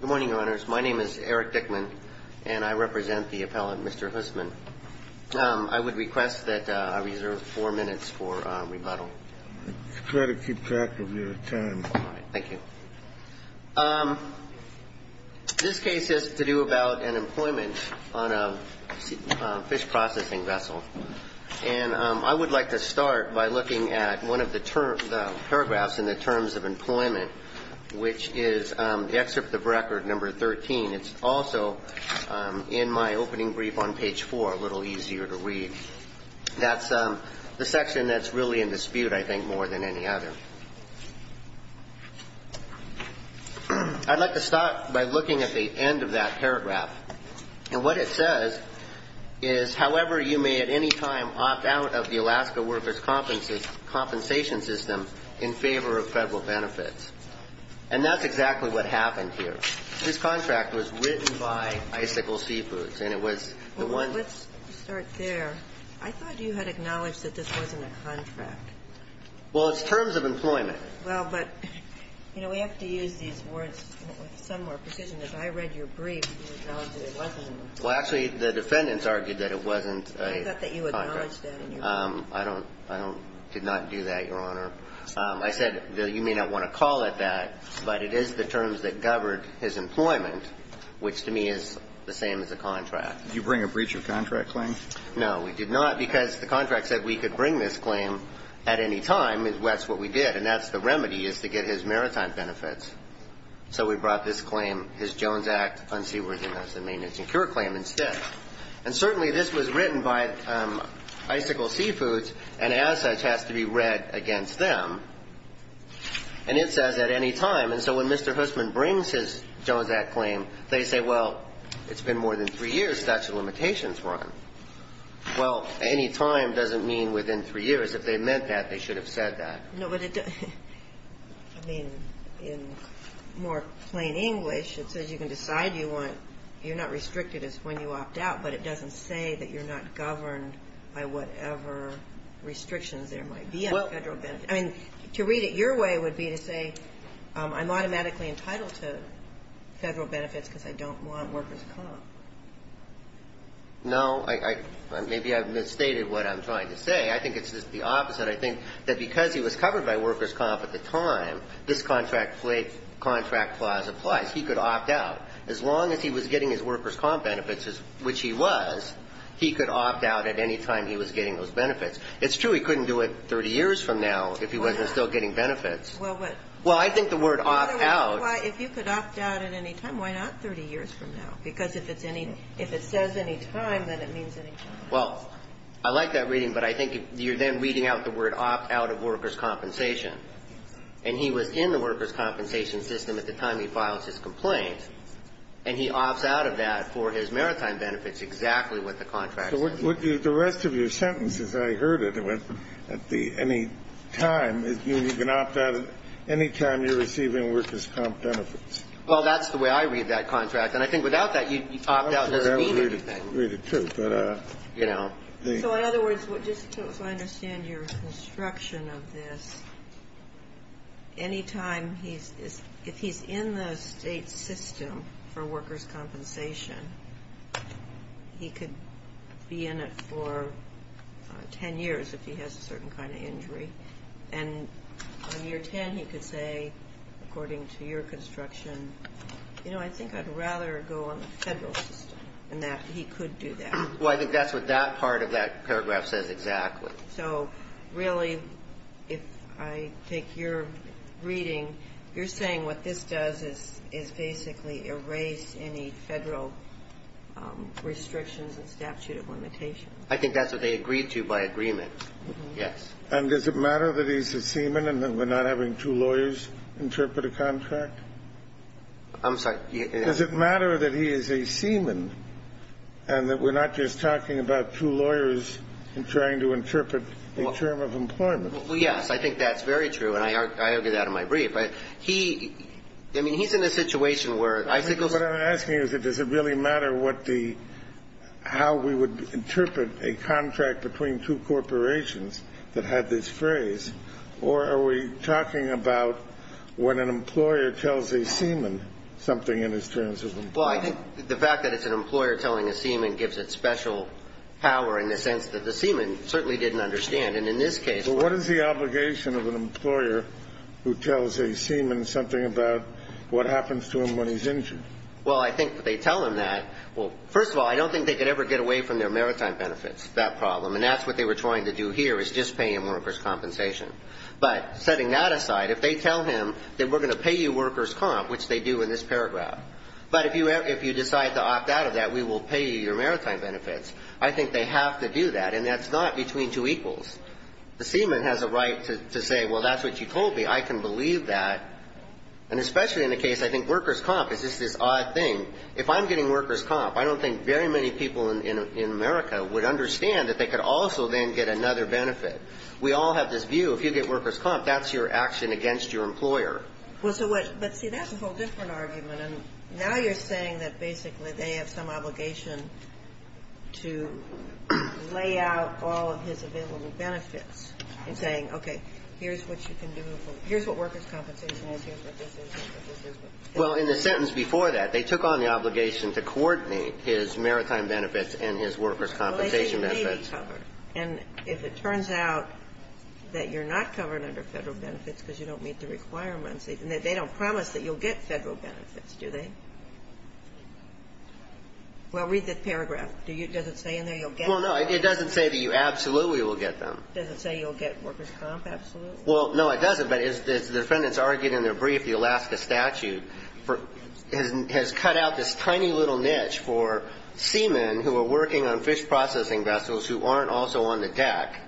Good morning, Your Honors. My name is Eric Dickman, and I represent the appellant, Mr. Huseman. I would request that I reserve four minutes for rebuttal. Try to keep track of your time. All right. Thank you. This case has to do about an employment on a fish processing vessel. And I would like to start by looking at one of the paragraphs in the terms of employment, which is the excerpt of record number 13. It's also in my opening brief on page four, a little easier to read. That's the section that's really in dispute, I think, more than any other. I'd like to start by looking at the end of that paragraph. And what it says is, however you may at any time opt out of the Alaska Workers' Compensation System in favor of federal benefits. And that's exactly what happened here. This contract was written by Icicle Seafoods, and it was the one ñ Well, let's start there. I thought you had acknowledged that this wasn't a contract. Well, it's terms of employment. Well, but, you know, we have to use these words with some more precision. As I read your brief, you acknowledged that it wasn't a contract. Well, actually, the defendants argued that it wasn't a contract. I thought that you acknowledged that. I don't ñ I don't ñ did not do that, Your Honor. I said you may not want to call it that, but it is the terms that governed his employment, which to me is the same as a contract. Did you bring a breach of contract claim? No, we did not, because the contract said we could bring this claim at any time, and that's what we did. And that's the remedy, is to get his maritime benefits. So we brought this claim, his Jones Act unseaworthiness and maintenance and cure claim, instead. And certainly this was written by Icicle Seafoods, and as such has to be read against them. And it says at any time. And so when Mr. Hussman brings his Jones Act claim, they say, well, it's been more than three years, statute of limitations run. Well, any time doesn't mean within three years. If they meant that, they should have said that. No, but it doesn't ñ I mean, in more plain English, it says you can decide you want ñ you're not restricted as when you opt out, but it doesn't say that you're not governed by whatever restrictions there might be on Federal benefits. I mean, to read it your way would be to say I'm automatically entitled to Federal benefits because I don't want workers' comp. No. Maybe I've misstated what I'm trying to say. I think it's just the opposite. I think that because he was covered by workers' comp. at the time, this contract clause applies. He could opt out. As long as he was getting his workers' comp. benefits, which he was, he could opt out at any time he was getting those benefits. It's true he couldn't do it 30 years from now if he wasn't still getting benefits. Well, what ñ Well, I think the word opt out ñ Well, if you could opt out at any time, why not 30 years from now? Because if it's any ñ if it says any time, then it means any time. Well, I like that reading, but I think you're then reading out the word opt out of workers' compensation. And he was in the workers' compensation system at the time he filed his complaint, and he opts out of that for his maritime benefits, exactly what the contract says. So would you ñ the rest of your sentence, as I heard it, at the ñ any time, it means you can opt out at any time you're receiving workers' comp. benefits. Well, that's the way I read that contract. And I think without that, you'd opt out. I'm sure that would read it too. But, you know, the ñ So in other words, just so I understand your construction of this, any time he's ñ if he's in the state system for workers' compensation, he could be in it for 10 years if he has a certain kind of injury. And on year 10, he could say, according to your construction, you know, I think I'd rather go on the Federal system, and that he could do that. Well, I think that's what that part of that paragraph says exactly. So really, if I take your reading, you're saying what this does is basically erase any Federal restrictions and statute of limitations. I think that's what they agreed to by agreement, yes. And does it matter that he's a seaman and that we're not having two lawyers interpret a contract? I'm sorry. Does it matter that he is a seaman and that we're not just talking about two lawyers trying to interpret a term of employment? Well, yes. I think that's very true. And I argue that in my brief. He ñ I mean, he's in a situation where ñ I think what I'm asking is, does it really matter what the ñ how we would interpret a contract between two corporations that had this phrase, or are we talking about when an employer tells a seaman something in his terms of employment? Well, I think the fact that it's an employer telling a seaman gives it special power in the sense that the seaman certainly didn't understand. And in this case ñ But what is the obligation of an employer who tells a seaman something about what happens to him when he's injured? Well, I think if they tell him that, well, first of all, I don't think they could ever get away from their maritime benefits, that problem. And that's what they were trying to do here, is just pay him workers' compensation. But setting that aside, if they tell him that we're going to pay you workers' comp, which they do in this paragraph, but if you ñ if you decide to opt out of that, we will pay you your maritime benefits, I think they have to do that. And that's not between two equals. The seaman has a right to say, well, that's what you told me. I can believe that. And especially in the case ñ I think workers' comp is just this odd thing. If I'm getting workers' comp, I don't think very many people in America would understand that they could also then get another benefit. We all have this view. If you get workers' comp, that's your action against your employer. Well, so what ñ but, see, that's a whole different argument. And now you're saying that basically they have some obligation to lay out all of his available benefits and saying, okay, here's what you can do ñ here's what workers' compensation is, here's what this is, here's what this is. Well, in the sentence before that, they took on the obligation to coordinate his maritime benefits and his workers' compensation benefits. And if it turns out that you're not covered under Federal benefits because you don't meet the requirements, they don't promise that you'll get Federal benefits, do they? Well, read the paragraph. Does it say in there you'll get them? Well, no. It doesn't say that you absolutely will get them. Does it say you'll get workers' comp absolutely? Well, no, it doesn't. But as the defendants argued in their brief, the Alaska statute has cut out this tiny little niche for seamen who are working on fish processing vessels who aren't also on the deck.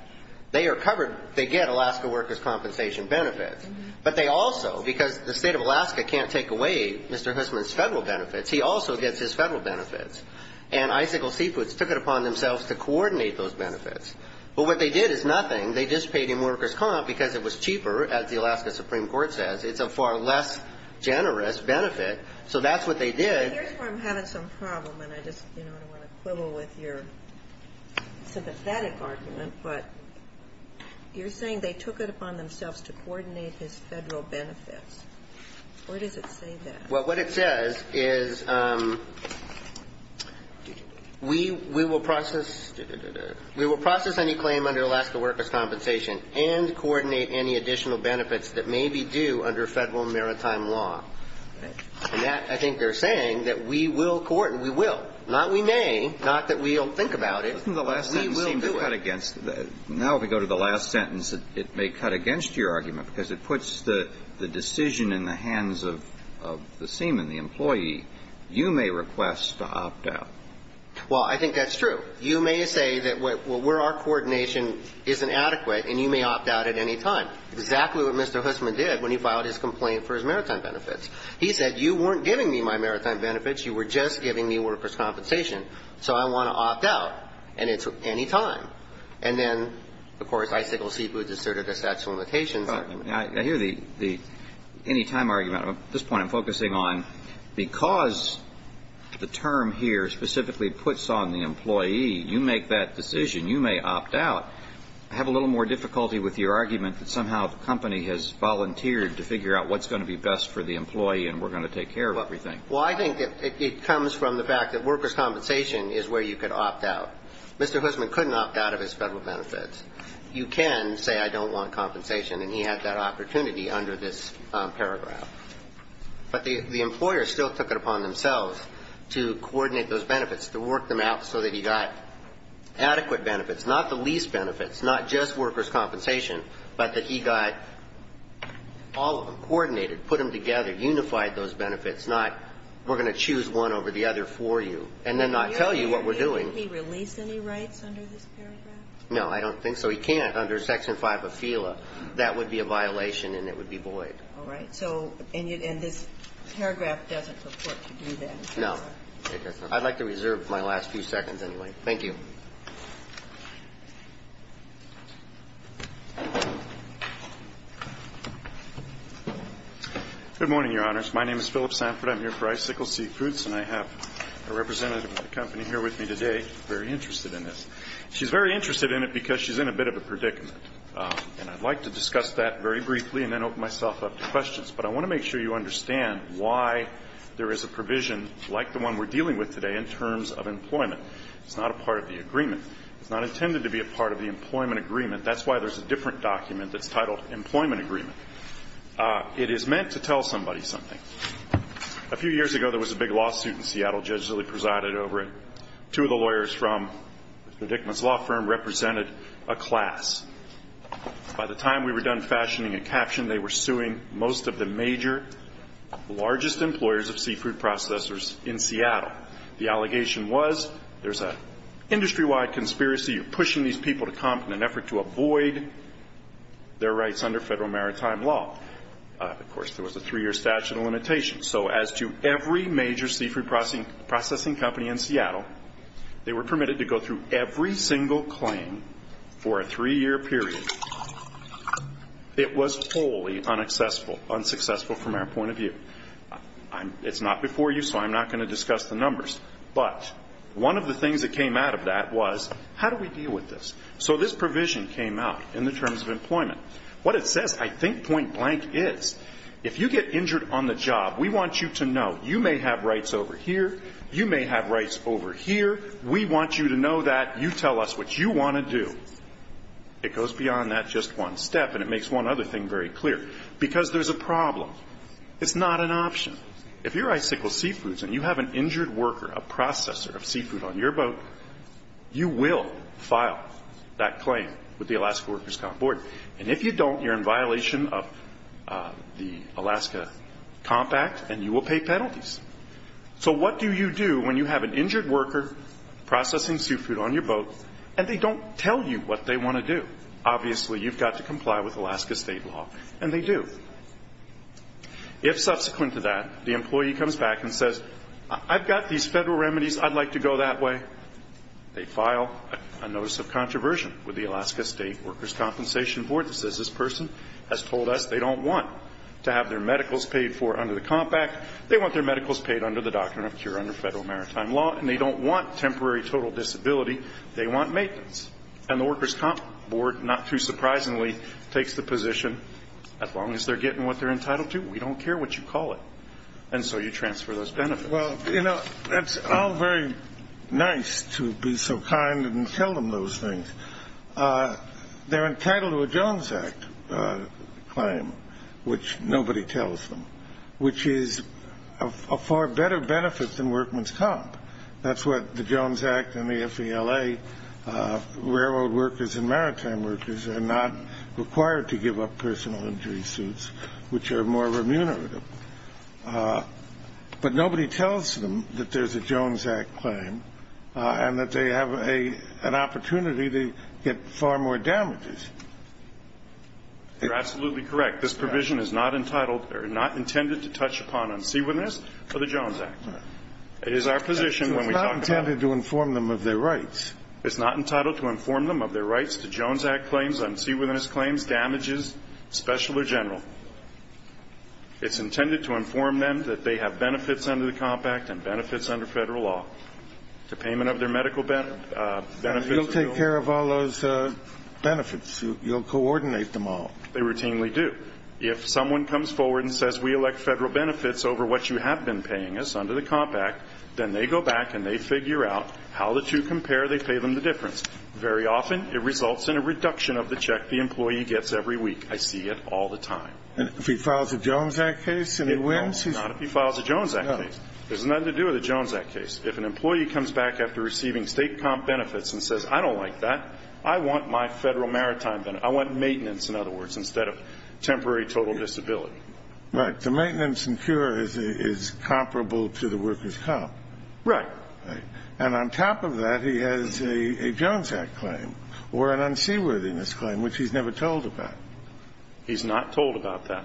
They are covered ñ they get Alaska workers' compensation benefits. But they also ñ because the State of Alaska can't take away Mr. Hussman's Federal benefits, he also gets his Federal benefits. And Icicle Seafoods took it upon themselves to coordinate those benefits. But what they did is nothing. They just paid him workers' comp because it was cheaper, as the Alaska Supreme Court says. It's a far less generous benefit. So that's what they did. Well, here's where I'm having some problem. And I just ñ you know, I don't want to quibble with your sympathetic argument. But you're saying they took it upon themselves to coordinate his Federal benefits. Where does it say that? Well, what it says is we will process any claim under Alaska workers' compensation and coordinate any additional benefits that may be due under Federal maritime law. And that, I think, they're saying, that we will coordinate. We will. Not we may. Not that we'll think about it. We will do it. Now, if we go to the last sentence, it may cut against your argument, because it puts the decision in the hands of the seaman, the employee. You may request to opt out. Well, I think that's true. You may say that where our coordination isn't adequate, and you may opt out at any time. But that's not exactly what Mr. Hussman did when he filed his complaint for his maritime benefits. He said, you weren't giving me my maritime benefits. You were just giving me workers' compensation. So I want to opt out. And it's any time. And then, of course, Icicle Seafoods asserted a statute of limitations. I hear the any time argument. At this point, I'm focusing on because the term here specifically puts on the employee, you make that decision. You may opt out. I have a little more difficulty with your argument that somehow the company has volunteered to figure out what's going to be best for the employee, and we're going to take care of everything. Well, I think it comes from the fact that workers' compensation is where you could opt out. Mr. Hussman couldn't opt out of his Federal benefits. You can say, I don't want compensation, and he had that opportunity under this paragraph. But the employer still took it upon themselves to coordinate those benefits, to work them out so that he got adequate benefits, not the least benefits, not just workers' compensation, but that he got all of them coordinated, put them together, unified those benefits, not we're going to choose one over the other for you, and then not tell you what we're doing. Can he release any rights under this paragraph? No, I don't think so. He can't under Section 5 of FELA. That would be a violation, and it would be void. All right. And this paragraph doesn't purport to do that. No. I'd like to reserve my last few seconds anyway. Thank you. Good morning, Your Honors. My name is Philip Sanford. I'm here for Icicle Seafoods, and I have a representative of the company here with me today, very interested in this. She's very interested in it because she's in a bit of a predicament. And I'd like to discuss that very briefly and then open myself up to questions. But I want to make sure you understand why there is a provision like the one we're dealing with today in terms of employment. It's not a part of the agreement. It's not intended to be a part of the employment agreement. That's why there's a different document that's titled Employment Agreement. It is meant to tell somebody something. A few years ago, there was a big lawsuit in Seattle. Judges really presided over it. Two of the lawyers from Mr. Dickman's law firm represented a class. By the time we were done fashioning a caption, they were suing most of the major largest employers of seafood processors in Seattle. The allegation was there's an industry-wide conspiracy. You're pushing these people to comp in an effort to avoid their rights under federal maritime law. Of course, there was a three-year statute of limitations. So as to every major seafood processing company in Seattle, they were permitted to go through every single claim for a three-year period. It was wholly unsuccessful from our point of view. It's not before you, so I'm not going to discuss the numbers. But one of the things that came out of that was, how do we deal with this? So this provision came out in the terms of employment. What it says, I think point blank, is if you get injured on the job, we want you to know you may have rights over here. You may have rights over here. We want you to know that. You tell us what you want to do. It goes beyond that just one step, and it makes one other thing very clear. Because there's a problem. It's not an option. If you're Icicle Seafoods and you have an injured worker, a processor of seafood on your boat, you will file that claim with the Alaska Workers' Comp Board. And if you don't, you're in violation of the Alaska Comp Act, and you will pay penalties. So what do you do when you have an injured worker processing seafood on your boat, and they don't tell you what they want to do? Obviously, you've got to comply with Alaska state law, and they do. If subsequent to that, the employee comes back and says, I've got these federal remedies, I'd like to go that way, they file a notice of controversy with the Alaska State Workers' Compensation Board that says this person has told us they don't want to have their medicals paid for under the Comp Act. They want their medicals paid under the Doctrine of Cure under federal maritime law, and they don't want temporary total disability. They want maintenance. And the Workers' Comp Board, not too surprisingly, takes the position, as long as they're getting what they're entitled to, we don't care what you call it. And so you transfer those benefits. Well, you know, that's all very nice to be so kind and tell them those things. They're entitled to a Jones Act claim, which nobody tells them, which is a far better benefit than Workmen's Comp. That's what the Jones Act and the FVLA, railroad workers and maritime workers, are not required to give up personal injury suits, which are more remunerative. But nobody tells them that there's a Jones Act claim and that they have an opportunity to get far more damages. You're absolutely correct. In fact, this provision is not entitled or not intended to touch upon unseawitness for the Jones Act. It is our position when we talk about it. It's not intended to inform them of their rights. It's not entitled to inform them of their rights to Jones Act claims, unseawitness claims, damages, special or general. It's intended to inform them that they have benefits under the Comp Act and benefits under federal law. The payment of their medical benefits. You'll take care of all those benefits. You'll coordinate them all. They routinely do. If someone comes forward and says, we elect federal benefits over what you have been paying us under the Comp Act, then they go back and they figure out how the two compare. They pay them the difference. Very often it results in a reduction of the check the employee gets every week. I see it all the time. And if he files a Jones Act case and he wins? No, not if he files a Jones Act case. It has nothing to do with a Jones Act case. If an employee comes back after receiving state comp benefits and says, I don't like that. I want my federal maritime benefits. I want maintenance, in other words, instead of temporary total disability. Right. The maintenance and cure is comparable to the worker's comp. Right. And on top of that, he has a Jones Act claim or an unseaworthiness claim, which he's never told about. He's not told about that.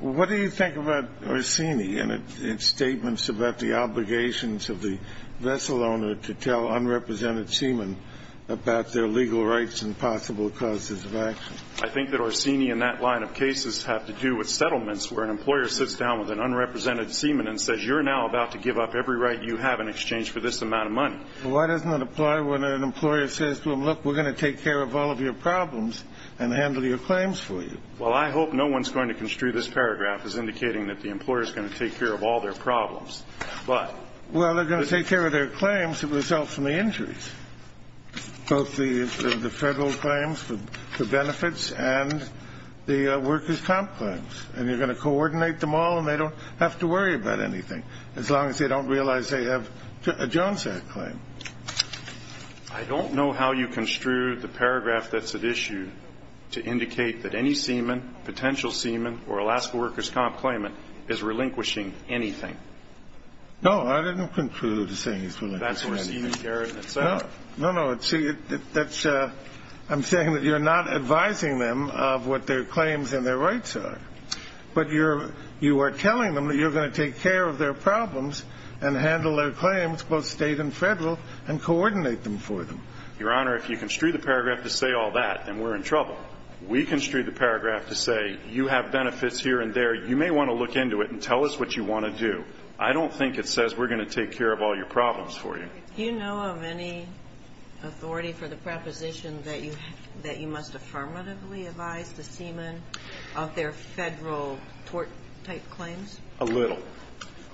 What do you think about Orsini and its statements about the obligations of the vessel owner to tell unrepresented seamen about their legal rights and possible causes of action? I think that Orsini and that line of cases have to do with settlements where an employer sits down with an unrepresented seaman and says, you're now about to give up every right you have in exchange for this amount of money. Why doesn't it apply when an employer says to him, look, we're going to take care of all of your problems and handle your claims for you? Well, I hope no one's going to construe this paragraph as indicating that the employer is going to take care of all their problems. Why? Well, they're going to take care of their claims that result from the injuries, both the federal claims for benefits and the worker's comp claims. And you're going to coordinate them all, and they don't have to worry about anything, as long as they don't realize they have a Jones Act claim. I don't know how you construed the paragraph that's at issue to indicate that any seaman, potential seaman, or Alaska worker's comp claimant is relinquishing anything. No, I didn't conclude to say he's relinquishing anything. That's for seaman Garrett himself. No, no. See, I'm saying that you're not advising them of what their claims and their rights are, but you are telling them that you're going to take care of their problems and handle their claims, both state and federal, and coordinate them for them. Your Honor, if you construed the paragraph to say all that, then we're in trouble. We construed the paragraph to say you have benefits here and there. You may want to look into it and tell us what you want to do. I don't think it says we're going to take care of all your problems for you. Do you know of any authority for the proposition that you must affirmatively advise the seaman of their federal tort-type claims? A little.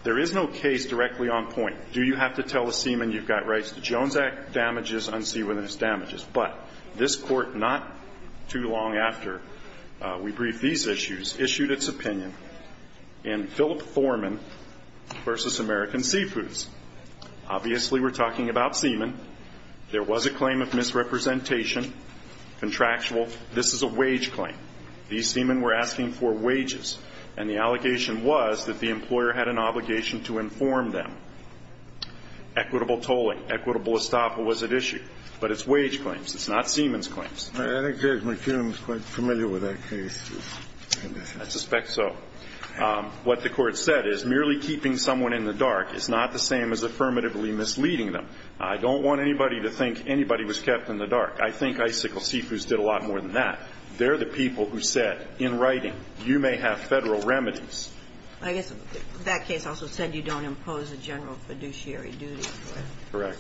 There is no case directly on point. Do you have to tell a seaman you've got rights to Jones Act damages, But this Court, not too long after we briefed these issues, issued its opinion in Philip Thorman v. American Seafoods. Obviously, we're talking about seaman. There was a claim of misrepresentation, contractual. This is a wage claim. These seamen were asking for wages, and the allegation was that the employer had an obligation to inform them. Equitable tolling. Equitable estoppel was at issue. But it's wage claims. It's not seaman's claims. I think Judge McKinnon is quite familiar with that case. I suspect so. What the Court said is merely keeping someone in the dark is not the same as affirmatively misleading them. I don't want anybody to think anybody was kept in the dark. I think Icicle Seafoods did a lot more than that. They're the people who said, in writing, you may have federal remedies. I guess that case also said you don't impose a general fiduciary duty for it. Correct.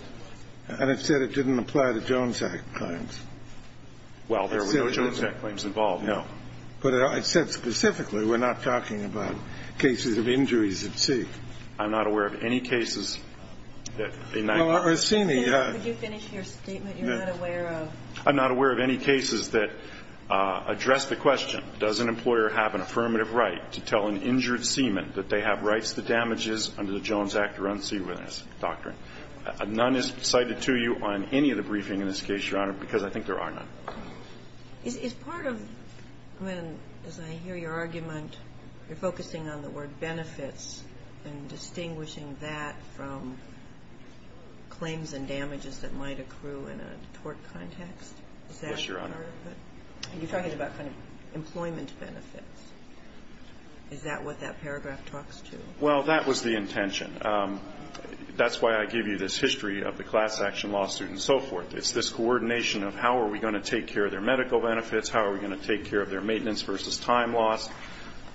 And it said it didn't apply to Jones Act claims. Well, there were no Jones Act claims involved. No. But it said specifically we're not talking about cases of injuries at sea. I'm not aware of any cases that in that case. Could you finish your statement? You're not aware of. I'm not aware of any cases that address the question, does an employer have an affirmative right to tell an injured seaman that they have rights to damages under the Jones Act or unseawitness doctrine? None is cited to you on any of the briefing in this case, Your Honor, because I think there are none. Is part of when, as I hear your argument, you're focusing on the word benefits and distinguishing that from claims and damages that might accrue in a tort context? Is that part of it? Yes, Your Honor. You're talking about kind of employment benefits. Is that what that paragraph talks to? Well, that was the intention. That's why I give you this history of the class action lawsuit and so forth. It's this coordination of how are we going to take care of their medical benefits, how are we going to take care of their maintenance versus time loss.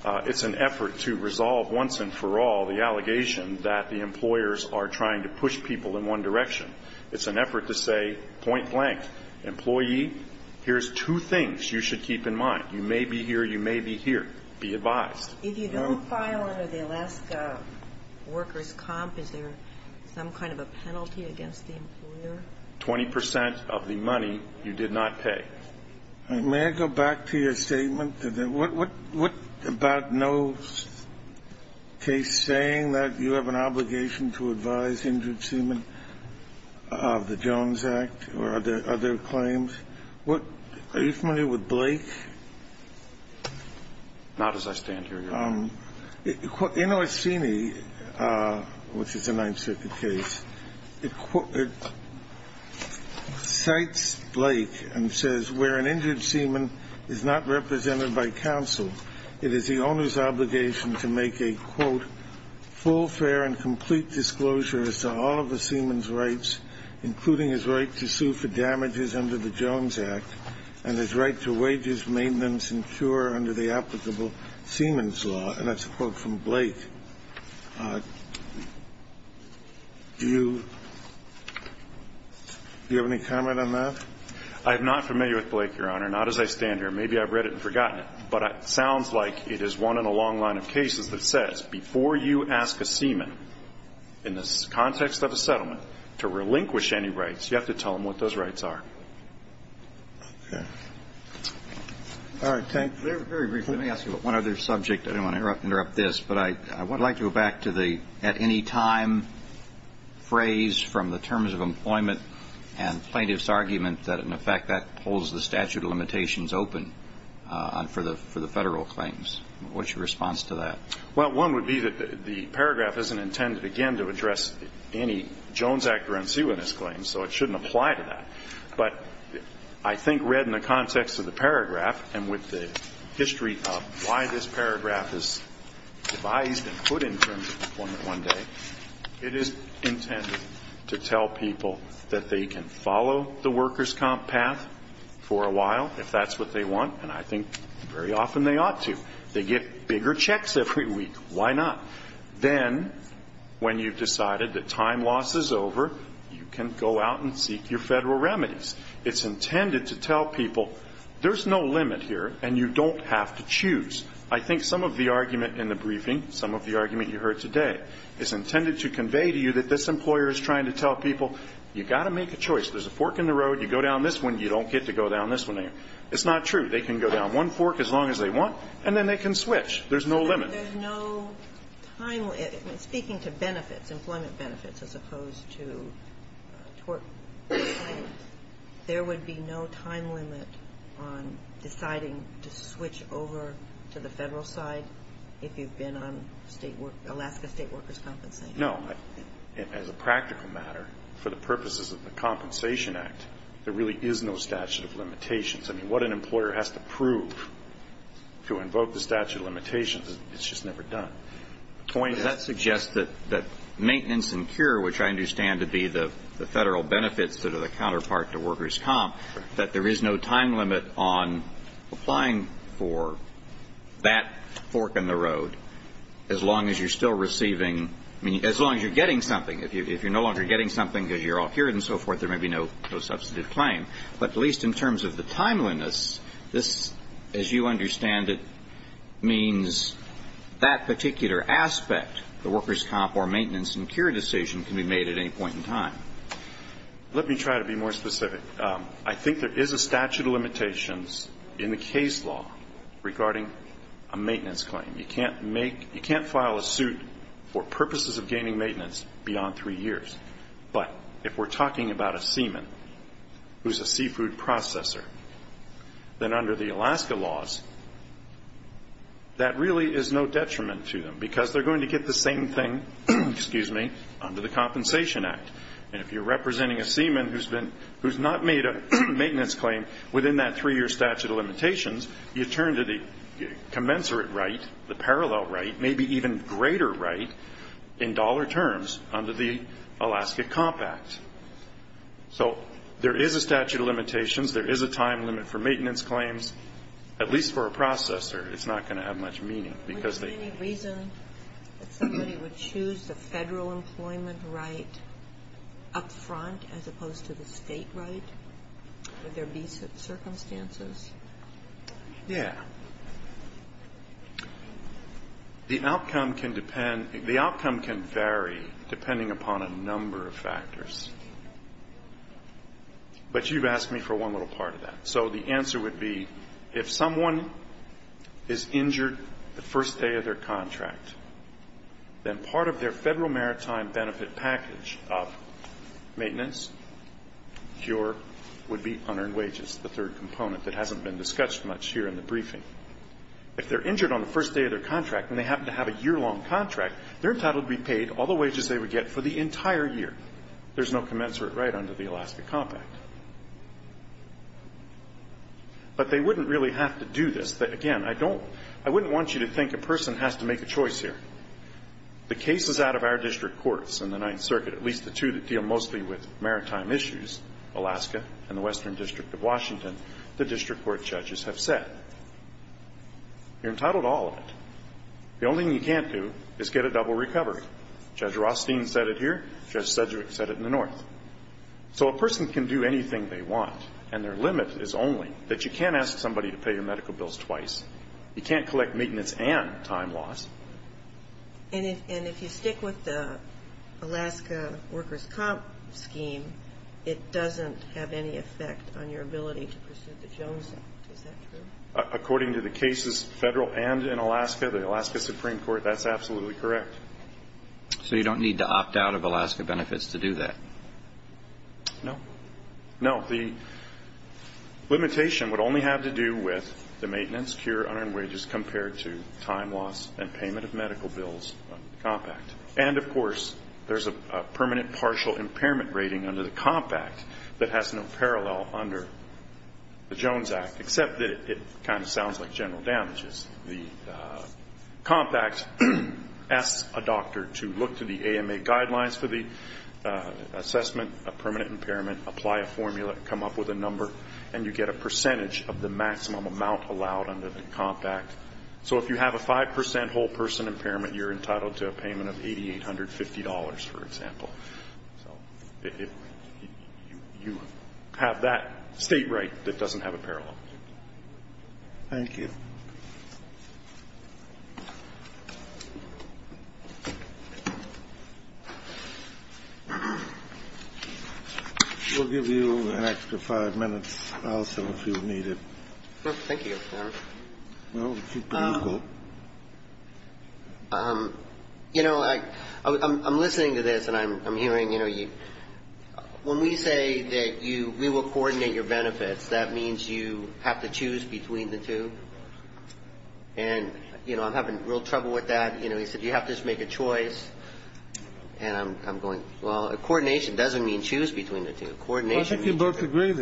It's an effort to resolve once and for all the allegation that the employers are trying to push people in one direction. It's an effort to say point blank, employee, here's two things you should keep in mind. You may be here, you may be here. Be advised. If you don't file under the Alaska workers' comp, is there some kind of a penalty against the employer? Twenty percent of the money you did not pay. May I go back to your statement? What about no case saying that you have an obligation to advise injured seamen? The Jones Act or other claims? Are you familiar with Blake? Not as I stand here, Your Honor. In Orsini, which is a Ninth Circuit case, it cites Blake and says where an injured seaman is not represented by counsel, it is the owner's obligation to make a, quote, to all of the seaman's rights, including his right to sue for damages under the Jones Act and his right to wages, maintenance and cure under the applicable seaman's law, and that's a quote from Blake. Do you have any comment on that? I am not familiar with Blake, Your Honor. Not as I stand here. Maybe I've read it and forgotten it, but it sounds like it is one in a long line of to relinquish any rights, you have to tell them what those rights are. Okay. All right. Thank you. Very briefly, let me ask you about one other subject. I don't want to interrupt this, but I would like to go back to the at-any-time phrase from the terms of employment and plaintiff's argument that, in effect, that holds the statute of limitations open for the Federal claims. What's your response to that? Well, one would be that the paragraph isn't intended, again, to address any Jones accuracy with this claim, so it shouldn't apply to that. But I think read in the context of the paragraph and with the history of why this paragraph is devised and put in terms of employment one day, it is intended to tell people that they can follow the workers' comp path for a while if that's what they want, and I think very often they ought to. They get bigger checks every week. Why not? Then, when you've decided that time loss is over, you can go out and seek your Federal remedies. It's intended to tell people there's no limit here and you don't have to choose. I think some of the argument in the briefing, some of the argument you heard today, is intended to convey to you that this employer is trying to tell people you've got to make a choice. There's a fork in the road. You go down this one. You don't get to go down this one. It's not true. They can go down one fork as long as they want, and then they can switch. There's no limit. There's no time limit. Speaking to benefits, employment benefits, as opposed to tort claims, there would be no time limit on deciding to switch over to the Federal side if you've been on Alaska State Workers' Compensation? No. As a practical matter, for the purposes of the Compensation Act, there really is no statute of limitations. I mean, what an employer has to prove to invoke the statute of limitations, it's just never done. The point is that that suggests that maintenance and cure, which I understand to be the Federal benefits that are the counterpart to Workers' Comp, that there is no time limit on applying for that fork in the road as long as you're still receiving as long as you're getting something. If you're no longer getting something because you're all cured and so forth, there may be no substantive claim. But at least in terms of the timeliness, this, as you understand it, means that particular aspect, the Workers' Comp or maintenance and cure decision, can be made at any point in time. Let me try to be more specific. I think there is a statute of limitations in the case law regarding a maintenance claim. You can't file a suit for purposes of gaining maintenance beyond three years. But if we're talking about a seaman who's a seafood processor, then under the Alaska laws, that really is no detriment to them because they're going to get the same thing, excuse me, under the Compensation Act. And if you're representing a seaman who's not made a maintenance claim within that three-year statute of limitations, you turn to the commensurate right, the Alaska Comp Act. So there is a statute of limitations. There is a time limit for maintenance claims. At least for a processor, it's not going to have much meaning because they Do you see any reason that somebody would choose the federal employment right up front as opposed to the state right? Would there be circumstances? Yeah. The outcome can vary depending upon a number of factors. But you've asked me for one little part of that. So the answer would be if someone is injured the first day of their contract, then part of their federal maritime benefit package of maintenance, cure, would be unearned wages, the third component that hasn't been discussed much here in the case. If they're injured on the first day of their contract and they happen to have a year-long contract, they're entitled to be paid all the wages they would get for the entire year. There's no commensurate right under the Alaska Comp Act. But they wouldn't really have to do this. Again, I don't – I wouldn't want you to think a person has to make a choice here. The cases out of our district courts in the Ninth Circuit, at least the two that deal mostly with maritime issues, Alaska and the Western District of Washington, the district court judges have said. You're entitled to all of it. The only thing you can't do is get a double recovery. Judge Rothstein said it here. Judge Sedgwick said it in the North. So a person can do anything they want. And their limit is only that you can't ask somebody to pay your medical bills twice. You can't collect maintenance and time loss. And if you stick with the Alaska workers' comp scheme, it doesn't have any effect on your ability to pursue the Jones Act. Is that true? According to the cases, federal and in Alaska, the Alaska Supreme Court, that's absolutely correct. So you don't need to opt out of Alaska benefits to do that? No. No. The limitation would only have to do with the maintenance, cure, unearned wages compared to time loss and payment of medical bills under the Comp Act. And, of course, there's a permanent partial impairment rating under the Comp Act that has no parallel under the Jones Act, except that it kind of sounds like general damages. The Comp Act asks a doctor to look to the AMA guidelines for the assessment of permanent impairment, apply a formula, come up with a number, and you get a percentage of the maximum amount allowed under the Comp Act. So if you have a 5% whole person impairment, you're entitled to a payment of $8,850, for example. So you have that state right that doesn't have a parallel. Thank you. We'll give you an extra five minutes, also, if you need it. Thank you, Your Honor. Well, keep going. You know, I'm listening to this, and I'm hearing, you know, when we say that you will coordinate your benefits, that means you have to choose between the two. And, you know, I'm having real trouble with that. You know, he said you have to just make a choice. And I'm going, well, coordination doesn't mean choose between the two. Coordination means control of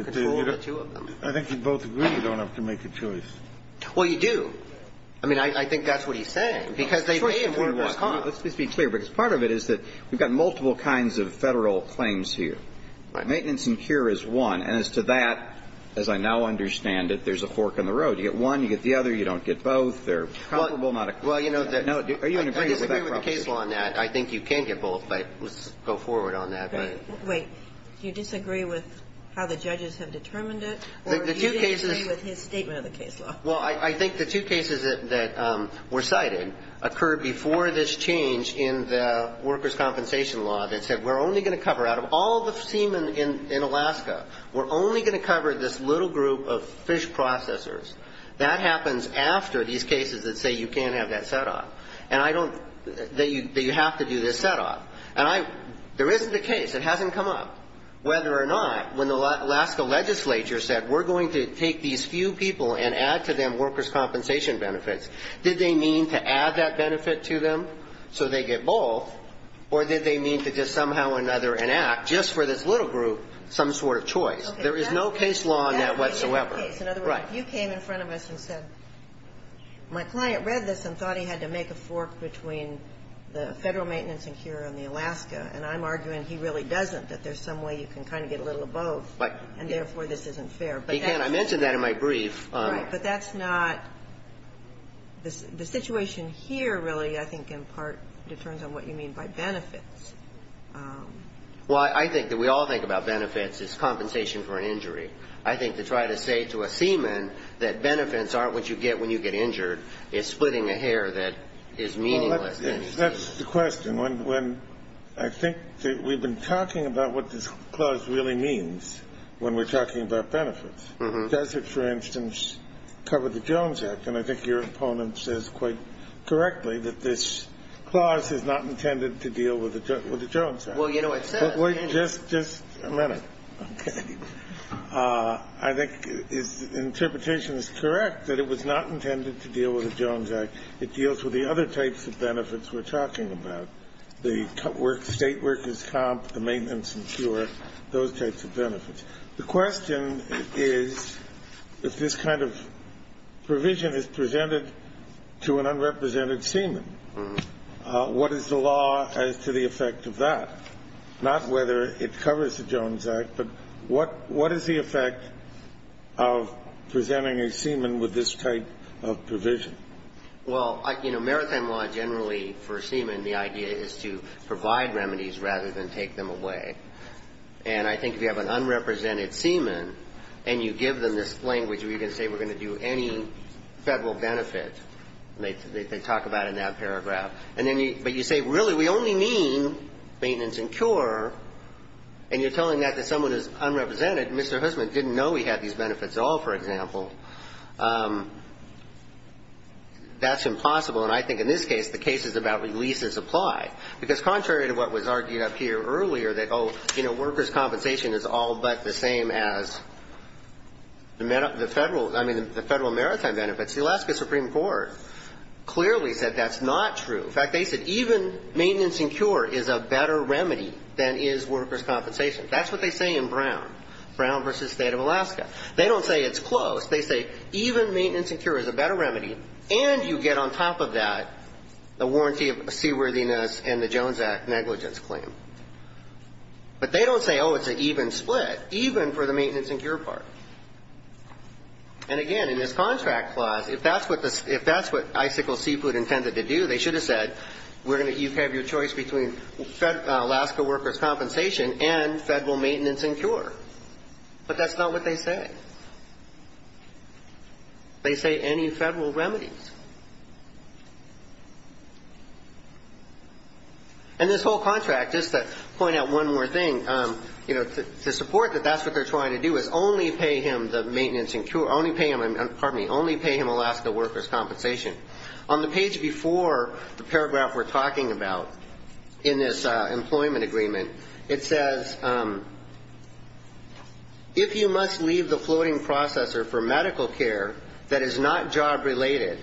the two of them. I think you both agree that you don't have to make a choice. Well, you do. I mean, I think that's what he's saying. Because they pay at the workers' comp. Let's just be clear, because part of it is that we've got multiple kinds of Federal claims here. Maintenance and cure is one. And as to that, as I now understand it, there's a fork in the road. You get one, you get the other, you don't get both. They're comparable, not equivalent. Well, you know, I disagree with the case law on that. I think you can get both, but let's go forward on that. Wait. Do you disagree with how the judges have determined it, or do you disagree with his statement of the case law? Well, I think the two cases that were cited occurred before this change in the workers' compensation law that said we're only going to cover, out of all the seamen in Alaska, we're only going to cover this little group of fish processors. That happens after these cases that say you can't have that set off. And I don't, that you have to do this set off. And I, there isn't a case, it hasn't come up, whether or not, when the Alaska Legislature said we're going to take these few people and add to them workers' compensation benefits, did they mean to add that benefit to them so they get both, or did they mean to just somehow or another enact, just for this little group, some sort of choice? There is no case law on that whatsoever. In other words, if you came in front of us and said, my client read this and thought he had to make a fork between the Federal Maintenance and Cure and the Alaska, and I'm arguing he really doesn't, that there's some way you can kind of get a little of both, and therefore this isn't fair. He can. I mentioned that in my brief. Right. But that's not, the situation here really, I think, in part, depends on what you mean by benefits. Well, I think that we all think about benefits as compensation for an injury. I think to try to say to a seaman that benefits aren't what you get when you get injured is splitting a hair that is meaningless. That's the question. I think that we've been talking about what this clause really means when we're talking about benefits. Does it, for instance, cover the Jones Act? And I think your opponent says quite correctly that this clause is not intended to deal with the Jones Act. Well, you know what it says. Just a minute. Okay. I think his interpretation is correct, that it was not intended to deal with the Jones Act. It deals with the other types of benefits we're talking about, the state workers' comp, the maintenance and cure, those types of benefits. The question is if this kind of provision is presented to an unrepresented seaman, what is the law as to the effect of that? Not whether it covers the Jones Act, but what is the effect of presenting a seaman with this type of provision? Well, you know, maritime law generally for seamen, the idea is to provide remedies rather than take them away. And I think if you have an unrepresented seaman and you give them this language where you can say we're going to do any Federal benefit, they talk about it in that paragraph, and then you say, really, we only mean maintenance and cure, and you're telling that to someone who's unrepresented, and Mr. Hussman didn't know he had these benefits, that's impossible. And I think in this case, the cases about releases apply. Because contrary to what was argued up here earlier that, oh, you know, workers' compensation is all but the same as the Federal, I mean, the Federal maritime benefits, the Alaska Supreme Court clearly said that's not true. In fact, they said even maintenance and cure is a better remedy than is workers' compensation. That's what they say in Brown, Brown v. State of Alaska. They don't say it's close. They say even maintenance and cure is a better remedy, and you get on top of that the warranty of seaworthiness and the Jones Act negligence claim. But they don't say, oh, it's an even split, even for the maintenance and cure part. And, again, in this contract clause, if that's what Icicle Seafood intended to do, they should have said you have your choice between Alaska workers' compensation and Federal maintenance and cure. But that's not what they say. They say any Federal remedies. And this whole contract, just to point out one more thing, you know, to support that that's what they're trying to do is only pay him the maintenance and cure, only pay him Alaska workers' compensation. On the page before the paragraph we're talking about in this employment agreement, it says, if you must leave the floating processor for medical care that is not job-related,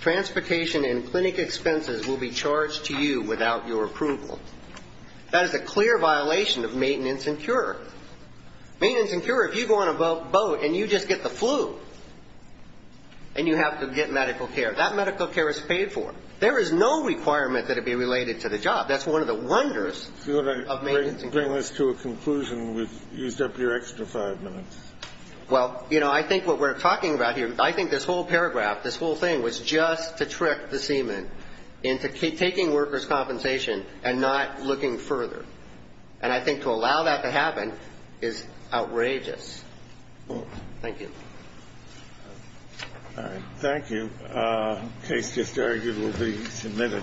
transportation and clinic expenses will be charged to you without your approval. That is a clear violation of maintenance and cure. Maintenance and cure, if you go on a boat and you just get the flu and you have to get medical care, that medical care is paid for. There is no requirement that it be related to the job. That's one of the wonders of maintenance and cure. Kennedy. Do you want to bring this to a conclusion? We've used up your extra five minutes. Well, you know, I think what we're talking about here, I think this whole paragraph, this whole thing was just to trick the seaman into taking workers' compensation and not looking further. And I think to allow that to happen is outrageous. Thank you. All right. Thank you. The case is adjourned. It will be submitted.